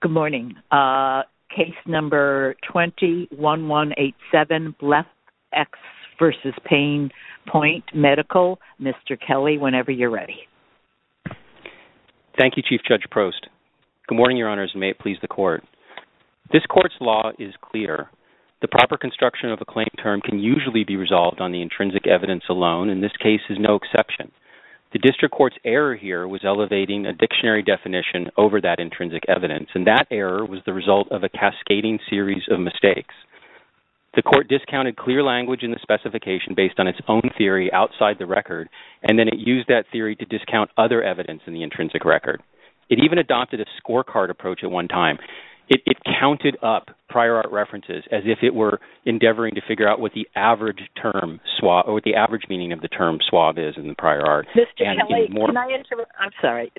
Good morning. Case number 21187, BlephEx v. Pain Point Medical. Mr. Kelly, whenever you're ready. Thank you, Chief Judge Prost. Good morning, Your Honors, and may it please the Court. This Court's law is clear. The proper construction of a claim term can usually be resolved on the intrinsic evidence alone, and this case is no exception. The District Court's error here was elevating a dictionary definition over that intrinsic evidence, and that error was the result of a cascading series of mistakes. The Court discounted clear language in the specification based on its own theory outside the record, and then it used that theory to discount other evidence in the intrinsic record. It even adopted a scorecard approach at one time. It counted up prior art references as if it were endeavoring to figure out what the average term, or what the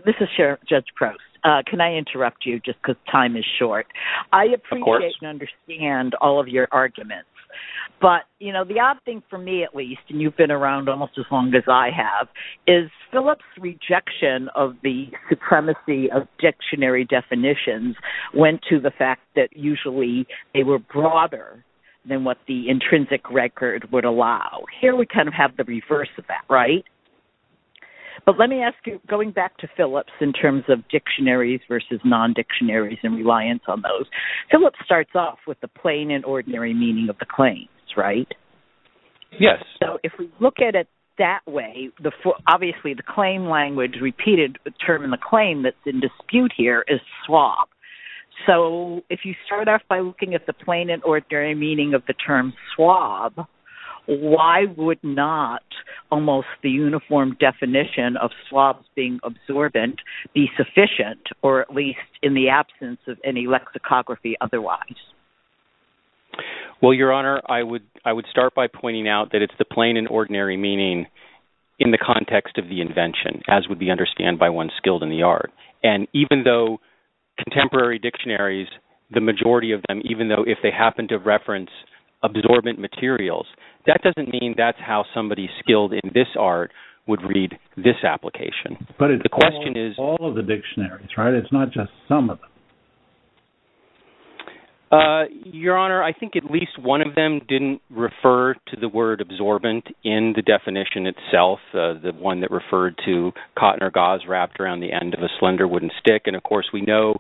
This is Judge Prost. Can I interrupt you just because time is short? I appreciate and understand all of your arguments, but, you know, the odd thing for me, at least, and you've been around almost as long as I have, is Phillips' rejection of the supremacy of dictionary definitions went to the fact that usually they were broader than what the intrinsic record would allow. Here we kind of have the reverse of that, right? But let me ask you, going back to Phillips in terms of dictionaries versus non-dictionaries and reliance on those, Phillips starts off with the plain and ordinary meaning of the claims, right? Yes. So if we look at it that way, obviously the claim language, repeated term in the claim that's in dispute here is swab. So if you start off by looking at the plain and ordinary meaning of the term swab, why would not almost the uniform definition of swabs being absorbent be sufficient, or at least in the absence of any lexicography otherwise? Well, Your Honor, I would start by pointing out that it's the plain and ordinary meaning in the context of the invention, as would be understand by one skilled in the art. And even though contemporary dictionaries, the majority of them, even though if they happen to That doesn't mean that's how somebody skilled in this art would read this application. But it's all of the dictionaries, right? It's not just some of them. Your Honor, I think at least one of them didn't refer to the word absorbent in the definition itself. The one that referred to cotton or gauze wrapped around the end of a slender wooden stick. And of course we know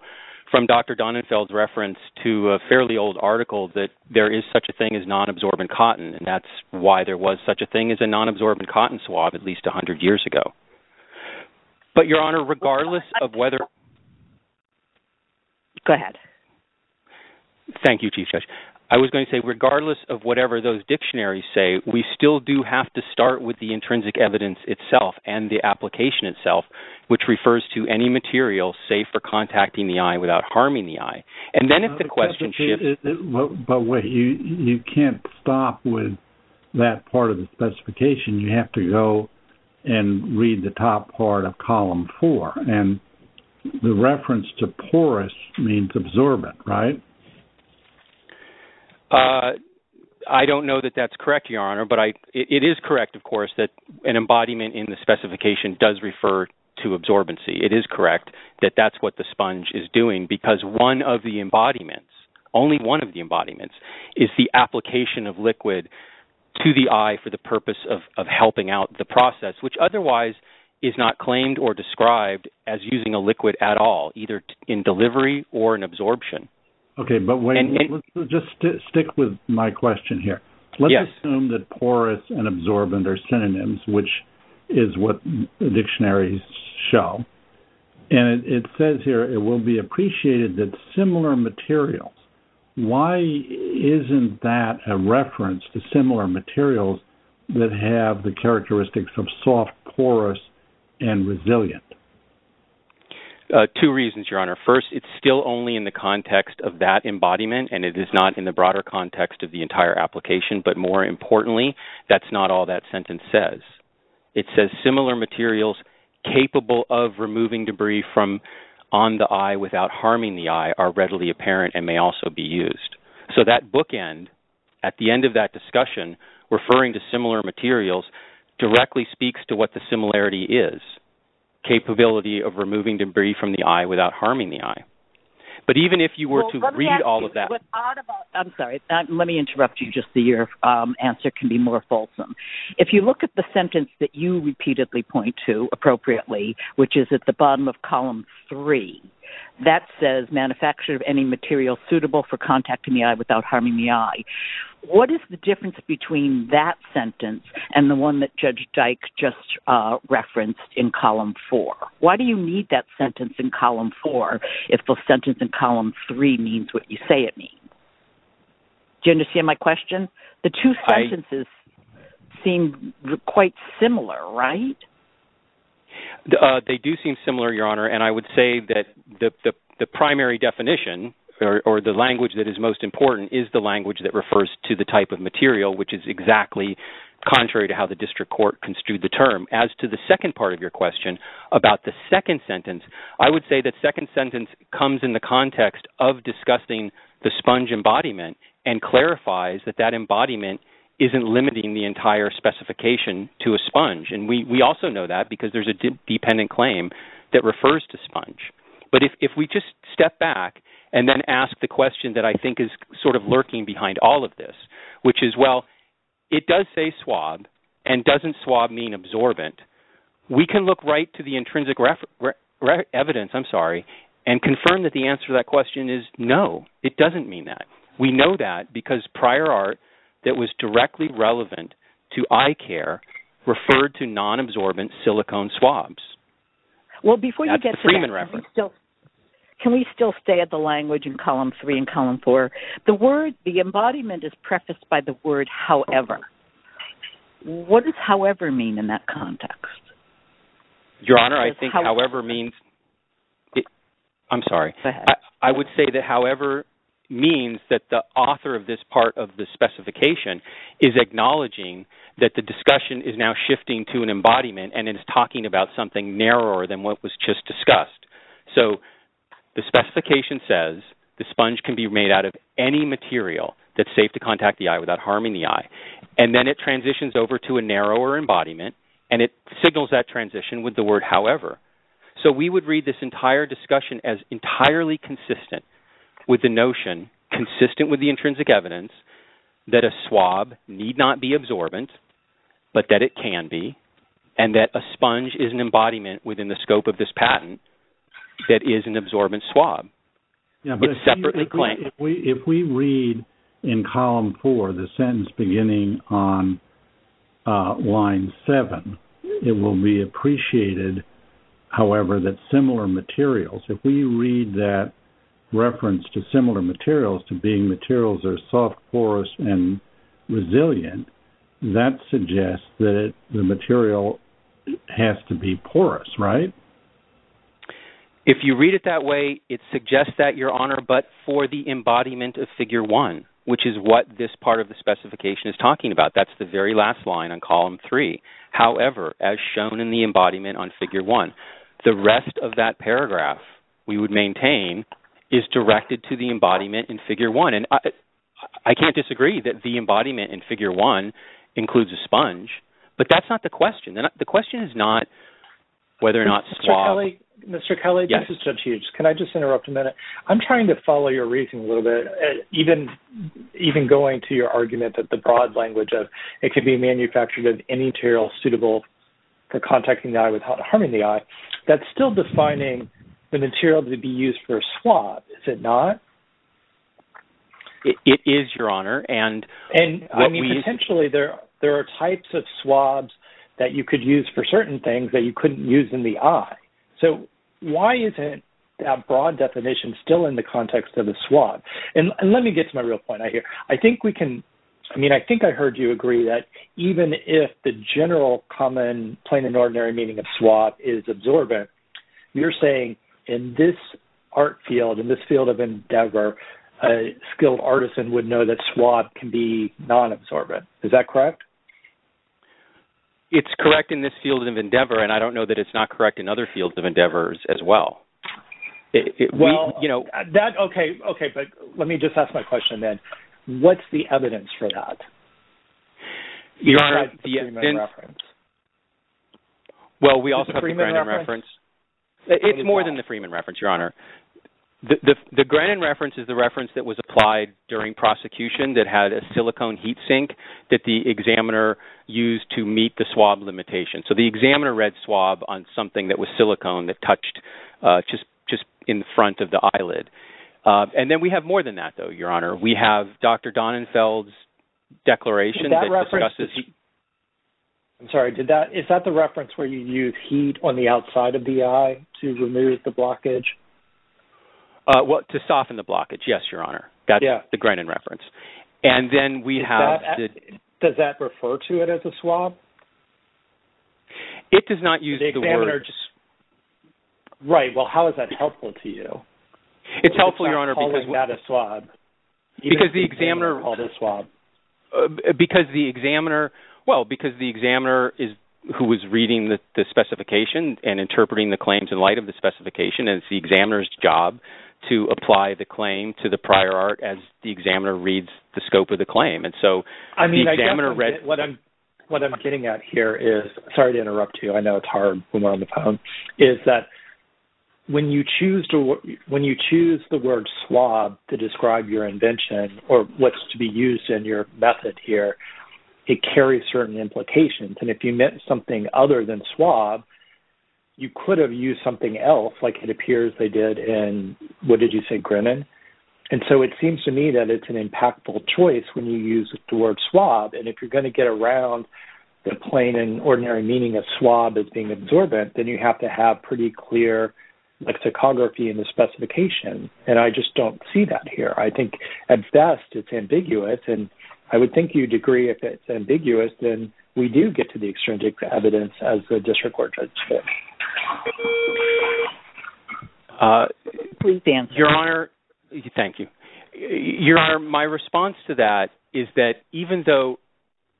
from Dr. Donenfeld's reference to a fairly old article that there is such a thing as non-absorbent cotton. And that's why there was such a thing as a non-absorbent cotton swab at least 100 years ago. But Your Honor, regardless of whether Go ahead. Thank you, Chief Judge. I was going to say, regardless of whatever those dictionaries say, we still do have to start with the intrinsic evidence itself and the application itself, which refers to any material safe for contacting the eye without harming the eye. And then if the question shifts... But wait, you can't stop with that part of the specification. You have to go and read the top part of column four. And the reference to porous means absorbent, right? I don't know that that's correct, Your Honor. But it is correct, of course, that an embodiment in the specification does refer to absorbency. It is correct that that's what the sponge is doing because one of the embodiments, only one of the embodiments, is the application of liquid to the eye for the purpose of helping out the process, which otherwise is not claimed or described as using a liquid at all, either in delivery or in absorption. Okay. But wait, just stick with my question here. Let's assume that porous and absorbent are synonyms, which is what the dictionaries show. And it says here, it will be appreciated that similar materials. Why isn't that a reference to similar materials that have the characteristics of soft, porous, and resilient? Two reasons, Your Honor. First, it's still only in the context of that embodiment, and it is not in the broader context of the sentence. It says similar materials capable of removing debris from on the eye without harming the eye are readily apparent and may also be used. So that bookend at the end of that discussion, referring to similar materials, directly speaks to what the similarity is, capability of removing debris from the eye without harming the eye. But even if you were to read all of that... I'm sorry. Let me interrupt you just so your answer can be more fulsome. If you look at the sentence that you repeatedly point to appropriately, which is at the bottom of column three, that says manufacture of any material suitable for contacting the eye without harming the eye. What is the difference between that sentence and the one that Judge Dyke just referenced in column four? Why do you need that sentence in column four if the sentence in column three means what you say it means? Do you understand my question? The two sentences... seem quite similar, right? They do seem similar, Your Honor. And I would say that the primary definition or the language that is most important is the language that refers to the type of material, which is exactly contrary to how the district court construed the term. As to the second part of your question about the second sentence, I would say that second sentence comes in the context of discussing the sponge embodiment and clarifies that that embodiment isn't limiting the entire specification to a sponge. And we also know that because there's a dependent claim that refers to sponge. But if we just step back and then ask the question that I think is sort of lurking behind all of this, which is, well, it does say swab and doesn't swab mean absorbent, we can look right to the intrinsic reference... evidence, I'm sorry, and confirm that the answer to that question is no, it doesn't mean that. We know that because prior art that was directly relevant to eye care referred to non-absorbent silicone swabs. Well, before you get to that, can we still stay at the language in column three and column four, the word, the embodiment is prefaced by the word however. What does however mean in that context? Your Honor, I think however means... I'm sorry, I would say that however means that the author of part of the specification is acknowledging that the discussion is now shifting to an embodiment and it's talking about something narrower than what was just discussed. So the specification says the sponge can be made out of any material that's safe to contact the eye without harming the eye. And then it transitions over to a narrower embodiment and it signals that transition with the word however. So we would read this entire discussion as entirely consistent with the notion, consistent with the intrinsic evidence, that a swab need not be absorbent, but that it can be and that a sponge is an embodiment within the scope of this patent that is an absorbent swab. It's separately claimed. If we read in column four, the sentence beginning on line seven, it will be appreciated, however, that similar materials, if we read that reference to similar materials to being materials are soft, porous, and resilient, that suggests that the material has to be porous, right? If you read it that way, it suggests that, Your Honor, but for the embodiment of figure one, which is what this part of the specification is talking about, that's the very last line on column three. However, as shown in the embodiment on figure one, the rest of that paragraph, we would maintain, is directed to the embodiment in figure one. And I can't disagree that the embodiment in figure one includes a sponge, but that's not the question. The question is not whether or not swab... Mr. Kelly, this is Judge Hughes. Can I just interrupt a minute? I'm trying to follow your reasoning a little bit, even going to your argument that the broad material suitable for contacting the eye without harming the eye, that's still defining the material to be used for a swab, is it not? It is, Your Honor, and... And I mean, potentially, there are types of swabs that you could use for certain things that you couldn't use in the eye. So why isn't that broad definition still in the context of the swab? And let me get to my real point here. I think we can, I mean, I think I heard you agree that even if the general, common, plain and ordinary meaning of swab is absorbent, you're saying, in this art field, in this field of endeavor, a skilled artisan would know that swab can be non-absorbent. Is that correct? It's correct in this field of endeavor, and I don't know that it's not correct in other fields of endeavors as well. Well, you know... That, okay, okay, but let me just ask my question then. What's the evidence for that? Your Honor... Well, we also have the Granin reference. It's more than the Freeman reference, Your Honor. The Granin reference is the reference that was applied during prosecution that had a silicone heat sink that the examiner used to meet the swab limitation. So the examiner read swab on something that was silicone that touched just in front of the eyelid. And then we have more than that, though, Your Honor. We have Dr. Donenfeld's declaration... I'm sorry, is that the reference where you use heat on the outside of the eye to remove the blockage? Well, to soften the blockage, yes, Your Honor. That's the Granin reference. And then we have... Does that refer to it as a swab? It does not use the word... Right, well, how is that helpful to you? It's helpful, Your Honor, because... Calling that a swab. Because the examiner... Call this swab. Because the examiner... Well, because the examiner is who was reading the specification and interpreting the claims in light of the specification. And it's the examiner's job to apply the claim to the prior art as the examiner reads the scope of the claim. And so... I mean, I guess what I'm getting at here is... Sorry to interrupt you. I know it's hard when you choose the word swab to describe your invention or what's to be used in your method here. It carries certain implications. And if you meant something other than swab, you could have used something else, like it appears they did in... What did you say, Granin? And so it seems to me that it's an impactful choice when you use the word swab. And if you're going to get around the plain and ordinary meaning of swab as being absorbent, then you have to have a pretty clear lexicography in the specification. And I just don't see that here. I think at best, it's ambiguous. And I would think you'd agree if it's ambiguous, then we do get to the extrinsic evidence as the district court judge said. Please answer. Your Honor, thank you. Your Honor, my response to that is that even though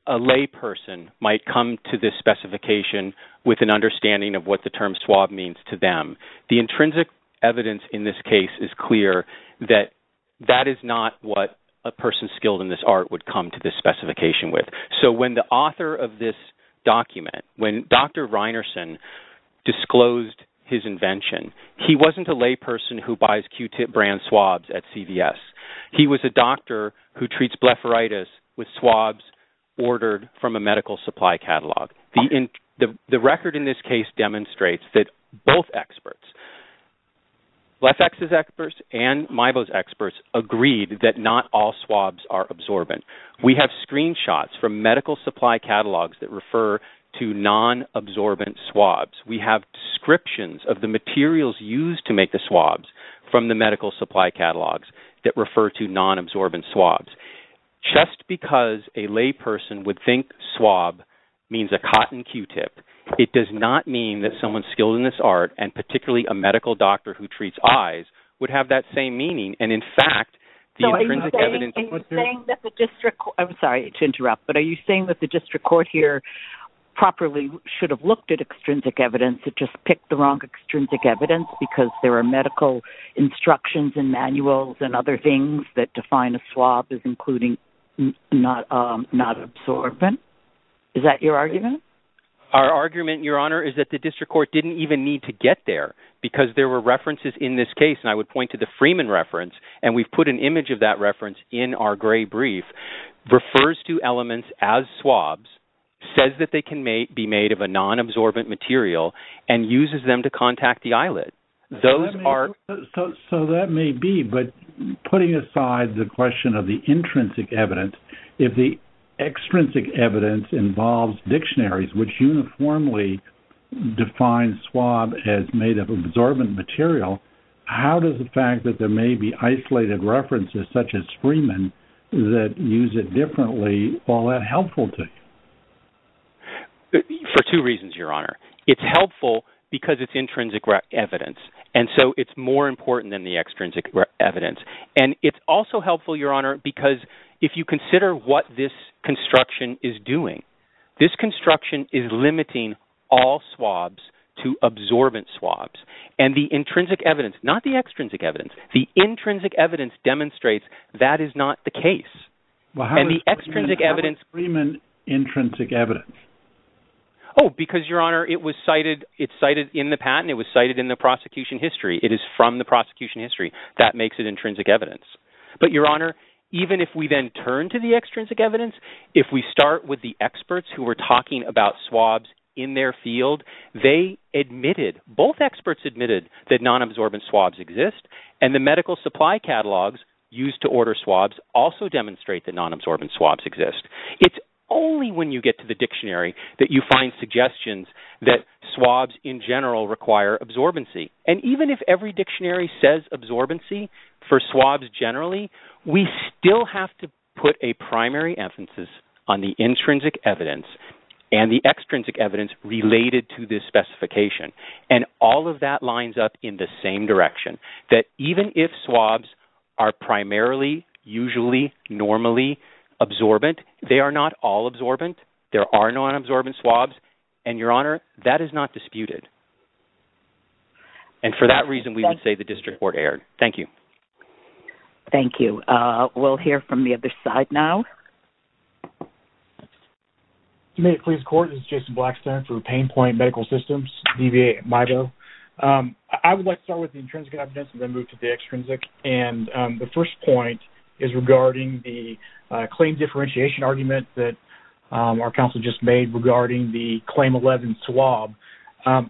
a lay person might come to this specification with an understanding of what the term swab means to them, the intrinsic evidence in this case is clear that that is not what a person skilled in this art would come to this specification with. So when the author of this document, when Dr. Reinerson disclosed his invention, he wasn't a lay person who buys Q-tip brand swabs at CVS. He was a doctor who The record in this case demonstrates that both experts, Lefebvre's experts and Maibo's experts agreed that not all swabs are absorbent. We have screenshots from medical supply catalogs that refer to non-absorbent swabs. We have descriptions of the materials used to make the swabs from the medical supply catalogs that refer to non-absorbent swabs. Just because a lay person would think swab means a cotton Q-tip, it does not mean that someone skilled in this art, and particularly a medical doctor who treats eyes, would have that same meaning. And in fact, the intrinsic evidence So are you saying that the district court, I'm sorry to interrupt, but are you saying that the district court here properly should have looked at extrinsic evidence to just pick the wrong extrinsic evidence because there are medical instructions and manuals and other things that define a swab as including non-absorbent? Is that your argument? Our argument, Your Honor, is that the district court didn't even need to get there because there were references in this case, and I would point to the Freeman reference, and we've put an image of that reference in our gray brief, refers to elements as swabs, says that they can be made of a non-absorbent material, and uses them to contact the eyelid. Those are... So that may be, but putting aside the question of the intrinsic evidence, if the extrinsic evidence involves dictionaries, which uniformly define swab as made of absorbent material, how does the fact that there may be isolated references such as Freeman that use it differently, all that helpful to you? It's helpful for two reasons, Your Honor. It's helpful because it's intrinsic evidence, and so it's more important than the extrinsic evidence, and it's also helpful, Your Honor, because if you consider what this construction is doing, this construction is limiting all swabs to absorbent swabs, and the intrinsic evidence, not the extrinsic evidence, the intrinsic evidence demonstrates that is not the case, and the extrinsic evidence... How is Freeman intrinsic evidence? Oh, because, Your Honor, it was cited in the patent. It was cited in the prosecution history. It is from the prosecution history. That makes it intrinsic evidence, but, Your Honor, even if we then turn to the extrinsic evidence, if we start with the experts who were talking about swabs in their field, they admitted, both experts admitted that non-absorbent swabs exist, and the medical supply catalogs used to order swabs also demonstrate that non-absorbent swabs exist. It's only when you get to the dictionary that you find suggestions that swabs in general require absorbency, and even if every dictionary says absorbency for swabs generally, we still have to put a primary emphasis on the intrinsic evidence and the extrinsic evidence related to this specification, and all of that lines up in the same direction, that even if swabs are primarily, usually, normally absorbent, they are not all absorbent. There are non-absorbent swabs, and, Your Honor, that is not disputed, and for that reason, we would say the district court erred. Thank you. Thank you. We'll hear from the other side now. This is Jason Blackstone for Pain Point Medical Systems, DVA at MIBO. I would like to start with the intrinsic evidence and then move to the extrinsic, and the first point is regarding the claim differentiation argument that our counsel just made regarding the Claim 11 swab.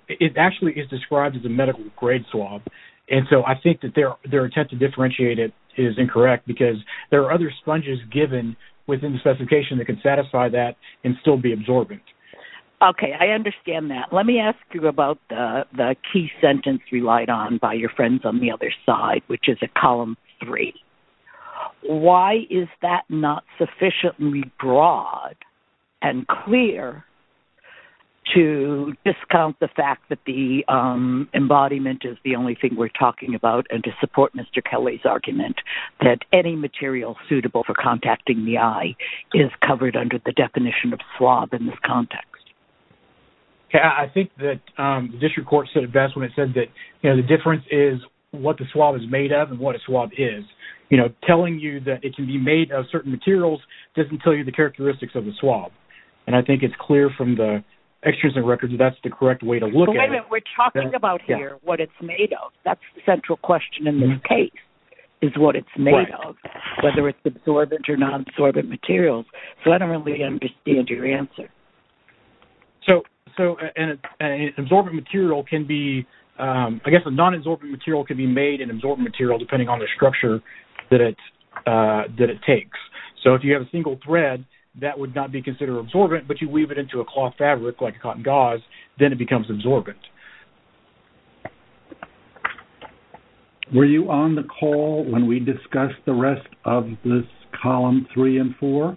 It actually is described as a medical-grade swab, and so I think that their attempt to satisfy that and still be absorbent. Okay. I understand that. Let me ask you about the key sentence relied on by your friends on the other side, which is at Column 3. Why is that not sufficiently broad and clear to discount the fact that the embodiment is the only thing we're talking about and to support Mr. Kelly's argument that any material suitable for contacting the eye is covered under the definition of swab in this context? Okay. I think that the district court said it best when it said that the difference is what the swab is made of and what a swab is. Telling you that it can be made of certain materials doesn't tell you the characteristics of the swab, and I think it's clear from the extrinsic records that that's the correct way to look at it. But wait a minute. We're talking about here what it's made of. That's the central question in this case is what it's made of, whether it's absorbent or non-absorbent material. So I don't really understand your answer. So an absorbent material can be... I guess a non-absorbent material can be made in absorbent material depending on the structure that it takes. So if you have a single thread, that would not be considered absorbent, but you weave it into a cloth fabric like a cotton gauze, then it becomes absorbent. Okay. Were you on the call when we discussed the rest of this column three and four?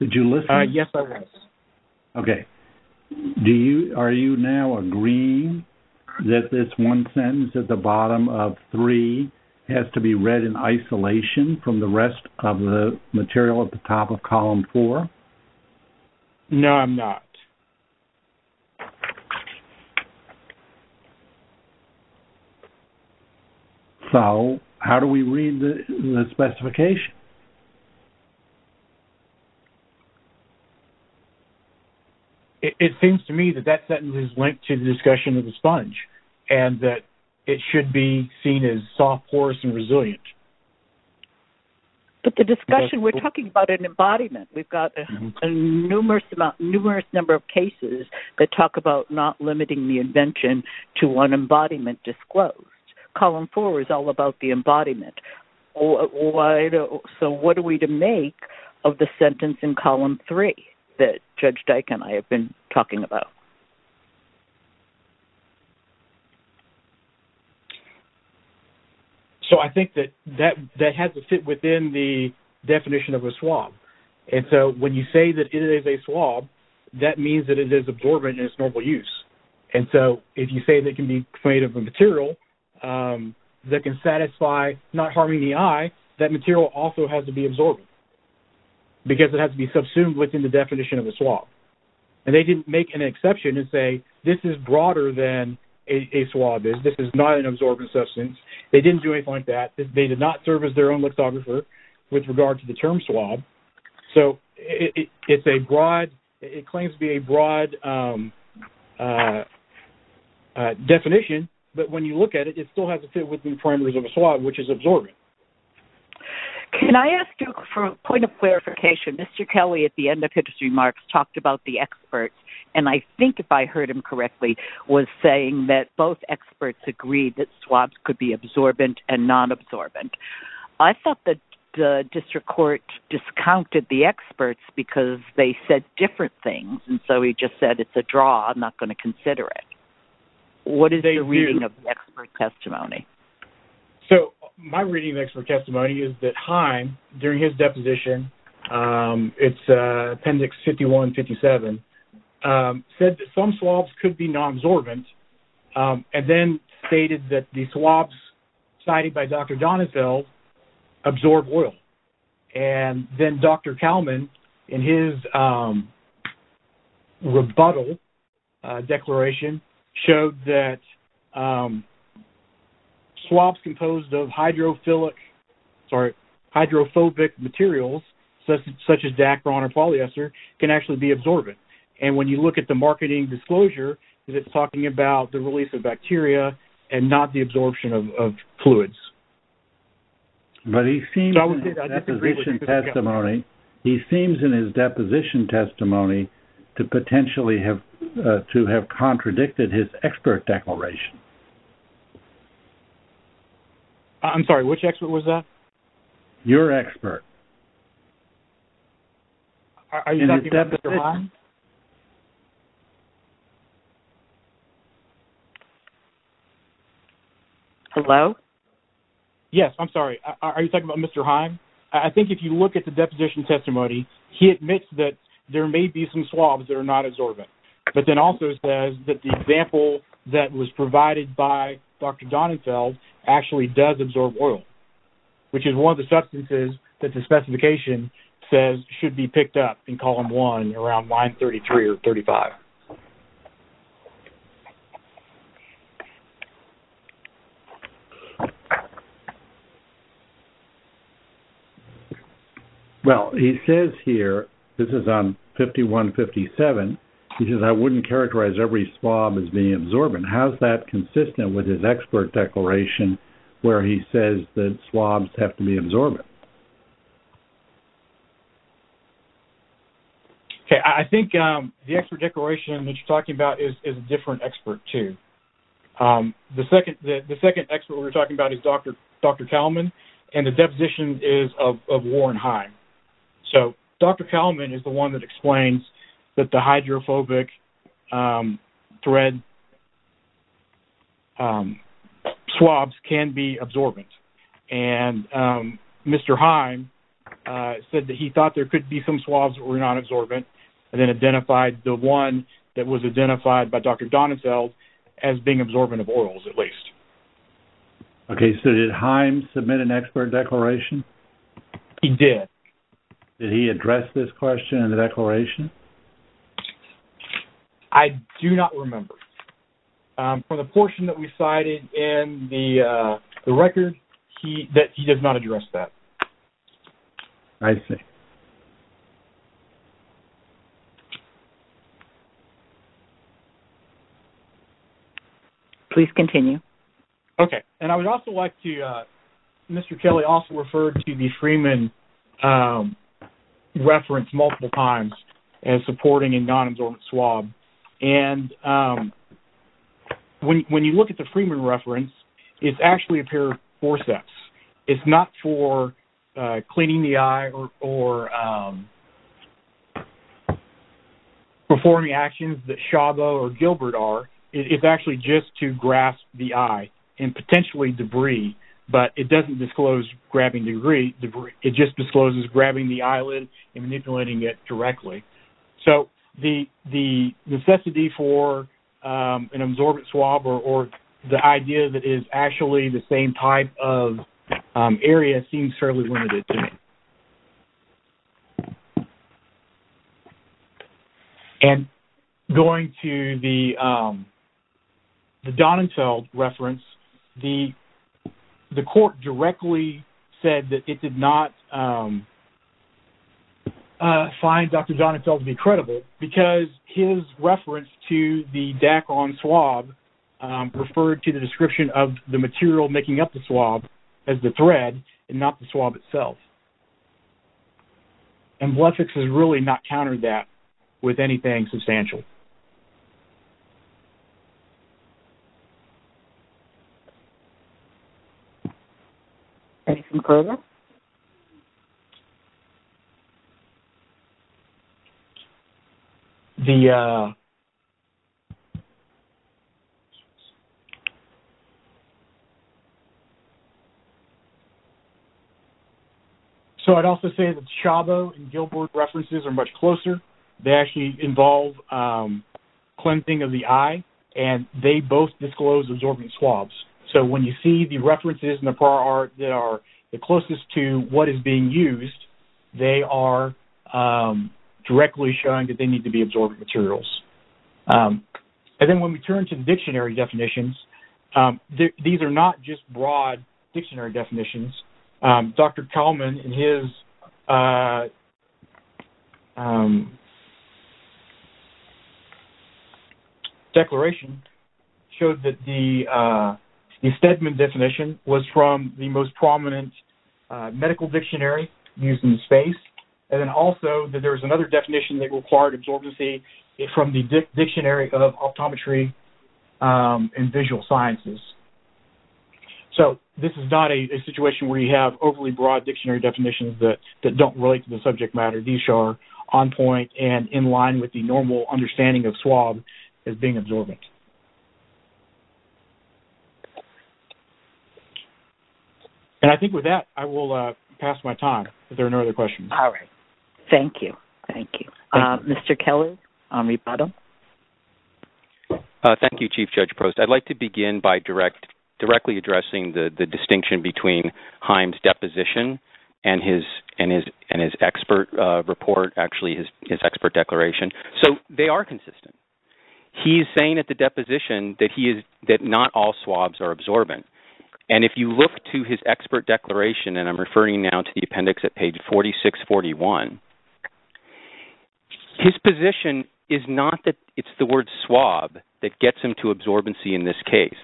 Did you listen? Yes, I was. Okay. Are you now agreeing that this one sentence at the bottom of three has to be read in isolation from the rest of the material at the top of column four? No, I'm not. Okay. So how do we read the specification? It seems to me that that sentence is linked to the discussion of the sponge and that it should be seen as soft, porous, and resilient. But the discussion... We're talking about an embodiment. We've got a numerous number of cases that talk about not limiting the invention to one embodiment disclosed. Column four is all about the embodiment. So what are we to make of the sentence in column three that Judge Dyke and I have been talking about? So I think that that has to fit within the definition of a swab. And so when you say that it is a swab, that means that it is absorbent in its normal use. And so if you say that it can be made of a material that can satisfy not harming the eye, that material also has to be absorbent because it has to be subsumed within the definition of a swab. And they didn't make an exception and say, this is broader than a swab is. This is not an absorbent substance. They didn't do anything like that. They did not serve as their own swab. So it's a broad... It claims to be a broad definition, but when you look at it, it still has to fit within the parameters of a swab, which is absorbent. Can I ask you for a point of clarification? Mr. Kelly, at the end of his remarks, talked about the experts. And I think if I heard him correctly, was saying that both experts agreed that swabs could be absorbent and non-absorbent. I thought that the district court discounted the experts because they said different things. And so he just said, it's a draw. I'm not going to consider it. What is the reading of the expert testimony? So my reading of expert testimony is that Heim, during his deposition, it's appendix 51-57, said that some swabs could be non-absorbent. And then stated that the swabs cited by Dr. Donizel absorb oil. And then Dr. Kalman, in his rebuttal declaration, showed that swabs composed of hydrophobic materials, such as Dacron or polyester, can actually be absorbent. And when you look at the marketing disclosure, it's talking about the release of bacteria and not the absorption of fluids. But he seems in his deposition testimony to have contradicted his expert declaration. I'm sorry, which expert was that? Your expert. Are you talking about Mr. Heim? Hello? Yes, I'm sorry. Are you talking about Mr. Heim? I think if you look at the deposition testimony, he admits that there may be some swabs that are not absorbent, but then also says that example that was provided by Dr. Donizel actually does absorb oil, which is one of the substances that the specification says should be picked up in column one around line 33 or 35. Okay. Well, he says here, this is on 5157, he says, I wouldn't characterize every swab as being absorbent. How is that consistent with his expert declaration where he says that swabs have to be absorbent? Okay. I think the expert declaration that you're talking about is a different expert too. The second expert we're talking about is Dr. Kalman, and the deposition is of Warren Heim. So, Dr. Kalman is the one that explains that the hydrophobic thread swabs can be absorbent. And Mr. Heim said that he thought there could be some swabs that were not absorbent, and then identified the one that was identified by Dr. Donizel as being absorbent of oils at least. Okay. So, did Heim submit an expert declaration? He did. Did he address this question in the declaration? I do not remember. From the portion that we cited in the record, he does not address that. I see. Please continue. Okay. And I would also like to- Mr. Kelly also referred to the Freeman reference multiple times as supporting a non-absorbent swab. And when you look at the Freeman reference, it's actually a pair of forceps. It's not for cleaning the eye or performing actions that Chabot or Gilbert are. It's actually just to grasp the eye and potentially debris, but it doesn't disclose grabbing debris. It just discloses grabbing the necessity for an absorbent swab or the idea that is actually the same type of area seems fairly limited to me. And going to the Donizel reference, the court directly said that it did not find Dr. Donizel to be credible because his reference to the Dacron swab referred to the description of the material making up the swab as the thread and not the swab itself. And Blethex has really not countered that with anything substantial. Any further? So, I'd also say that Chabot and Gilbert references are much closer. They actually involve cleansing of the eye, and they both disclose absorbing swabs. So, when you see references in the prior art that are the closest to what is being used, they are directly showing that they need to be absorbent materials. And then when we turn to the dictionary definitions, these are not just broad dictionary definitions. Dr. Kalman in his declaration showed that the Stedman definition was from the most prominent medical dictionary used in space, and then also that there was another definition that required absorbency from the dictionary of optometry and visual sciences. So, this is not a situation where you have overly broad dictionary definitions that don't relate to the subject matter. These are on point and in line with the normal understanding of swab as being absorbent. And I think with that, I will pass my time if there are no other questions. All right. Thank you. Thank you. Mr. Kelley? Thank you, Chief Judge Prost. I'd like to begin by directly addressing the distinction between his expert declaration. So, they are consistent. He is saying at the deposition that not all swabs are absorbent. And if you look to his expert declaration, and I'm referring now to the appendix at page 4641, his position is not that it's the word swab that gets him to absorbency in this case.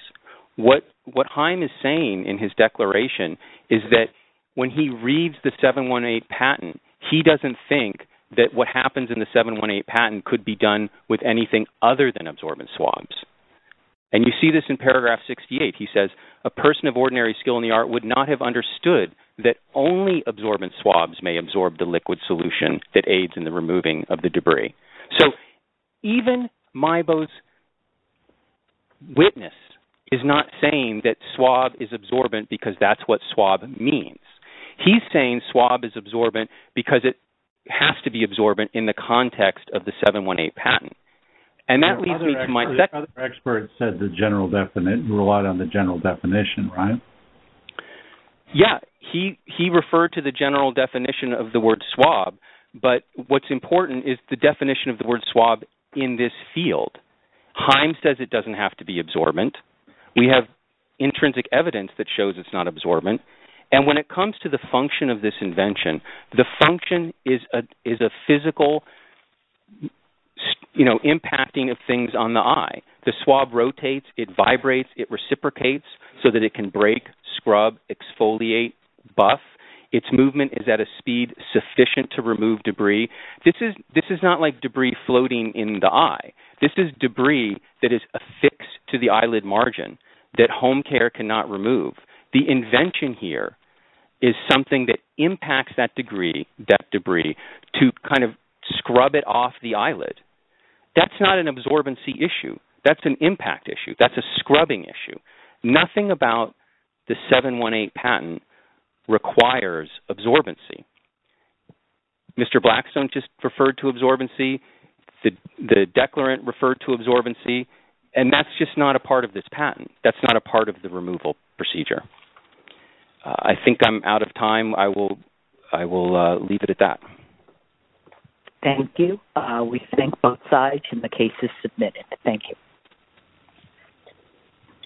What Haim is saying in his declaration is that when he reads the 718 patent, he doesn't think that what happens in the 718 patent could be done with anything other than absorbent swabs. And you see this in paragraph 68. He says, a person of ordinary skill in the art would not have understood that only absorbent swabs may absorb the liquid solution that aids in the removing of the debris. So, even Maibo's witness is not saying that swab is absorbent because that's what swab means. He's saying swab is absorbent because it has to be absorbent in the context of the 718 patent. And that leads me to my second... Other experts said the general definition, relied on the general definition, right? Yeah. He referred to the general definition of the word swab. But what's important is the definition of the word swab in this field. Haim says it doesn't have to be absorbent. We have intrinsic evidence that shows it's not absorbent. And when it comes to the function of this invention, the function is a physical impacting of things on the eye. The swab rotates, it vibrates, it reciprocates so that it can break, scrub, exfoliate, buff. Its movement is at a speed sufficient to remove debris. This is not debris floating in the eye. This is debris that is affixed to the eyelid margin that home care cannot remove. The invention here is something that impacts that debris to scrub it off the eyelid. That's not an absorbency issue. That's an impact issue. That's a scrubbing issue. Nothing about the 718 patent requires absorbency. Mr. Blackstone just referred to absorbency. The declarant referred to absorbency. And that's just not a part of this patent. That's not a part of the removal procedure. I think I'm out of time. I will leave it at that. Thank you. We thank both sides. And the case is submitted. Thank you.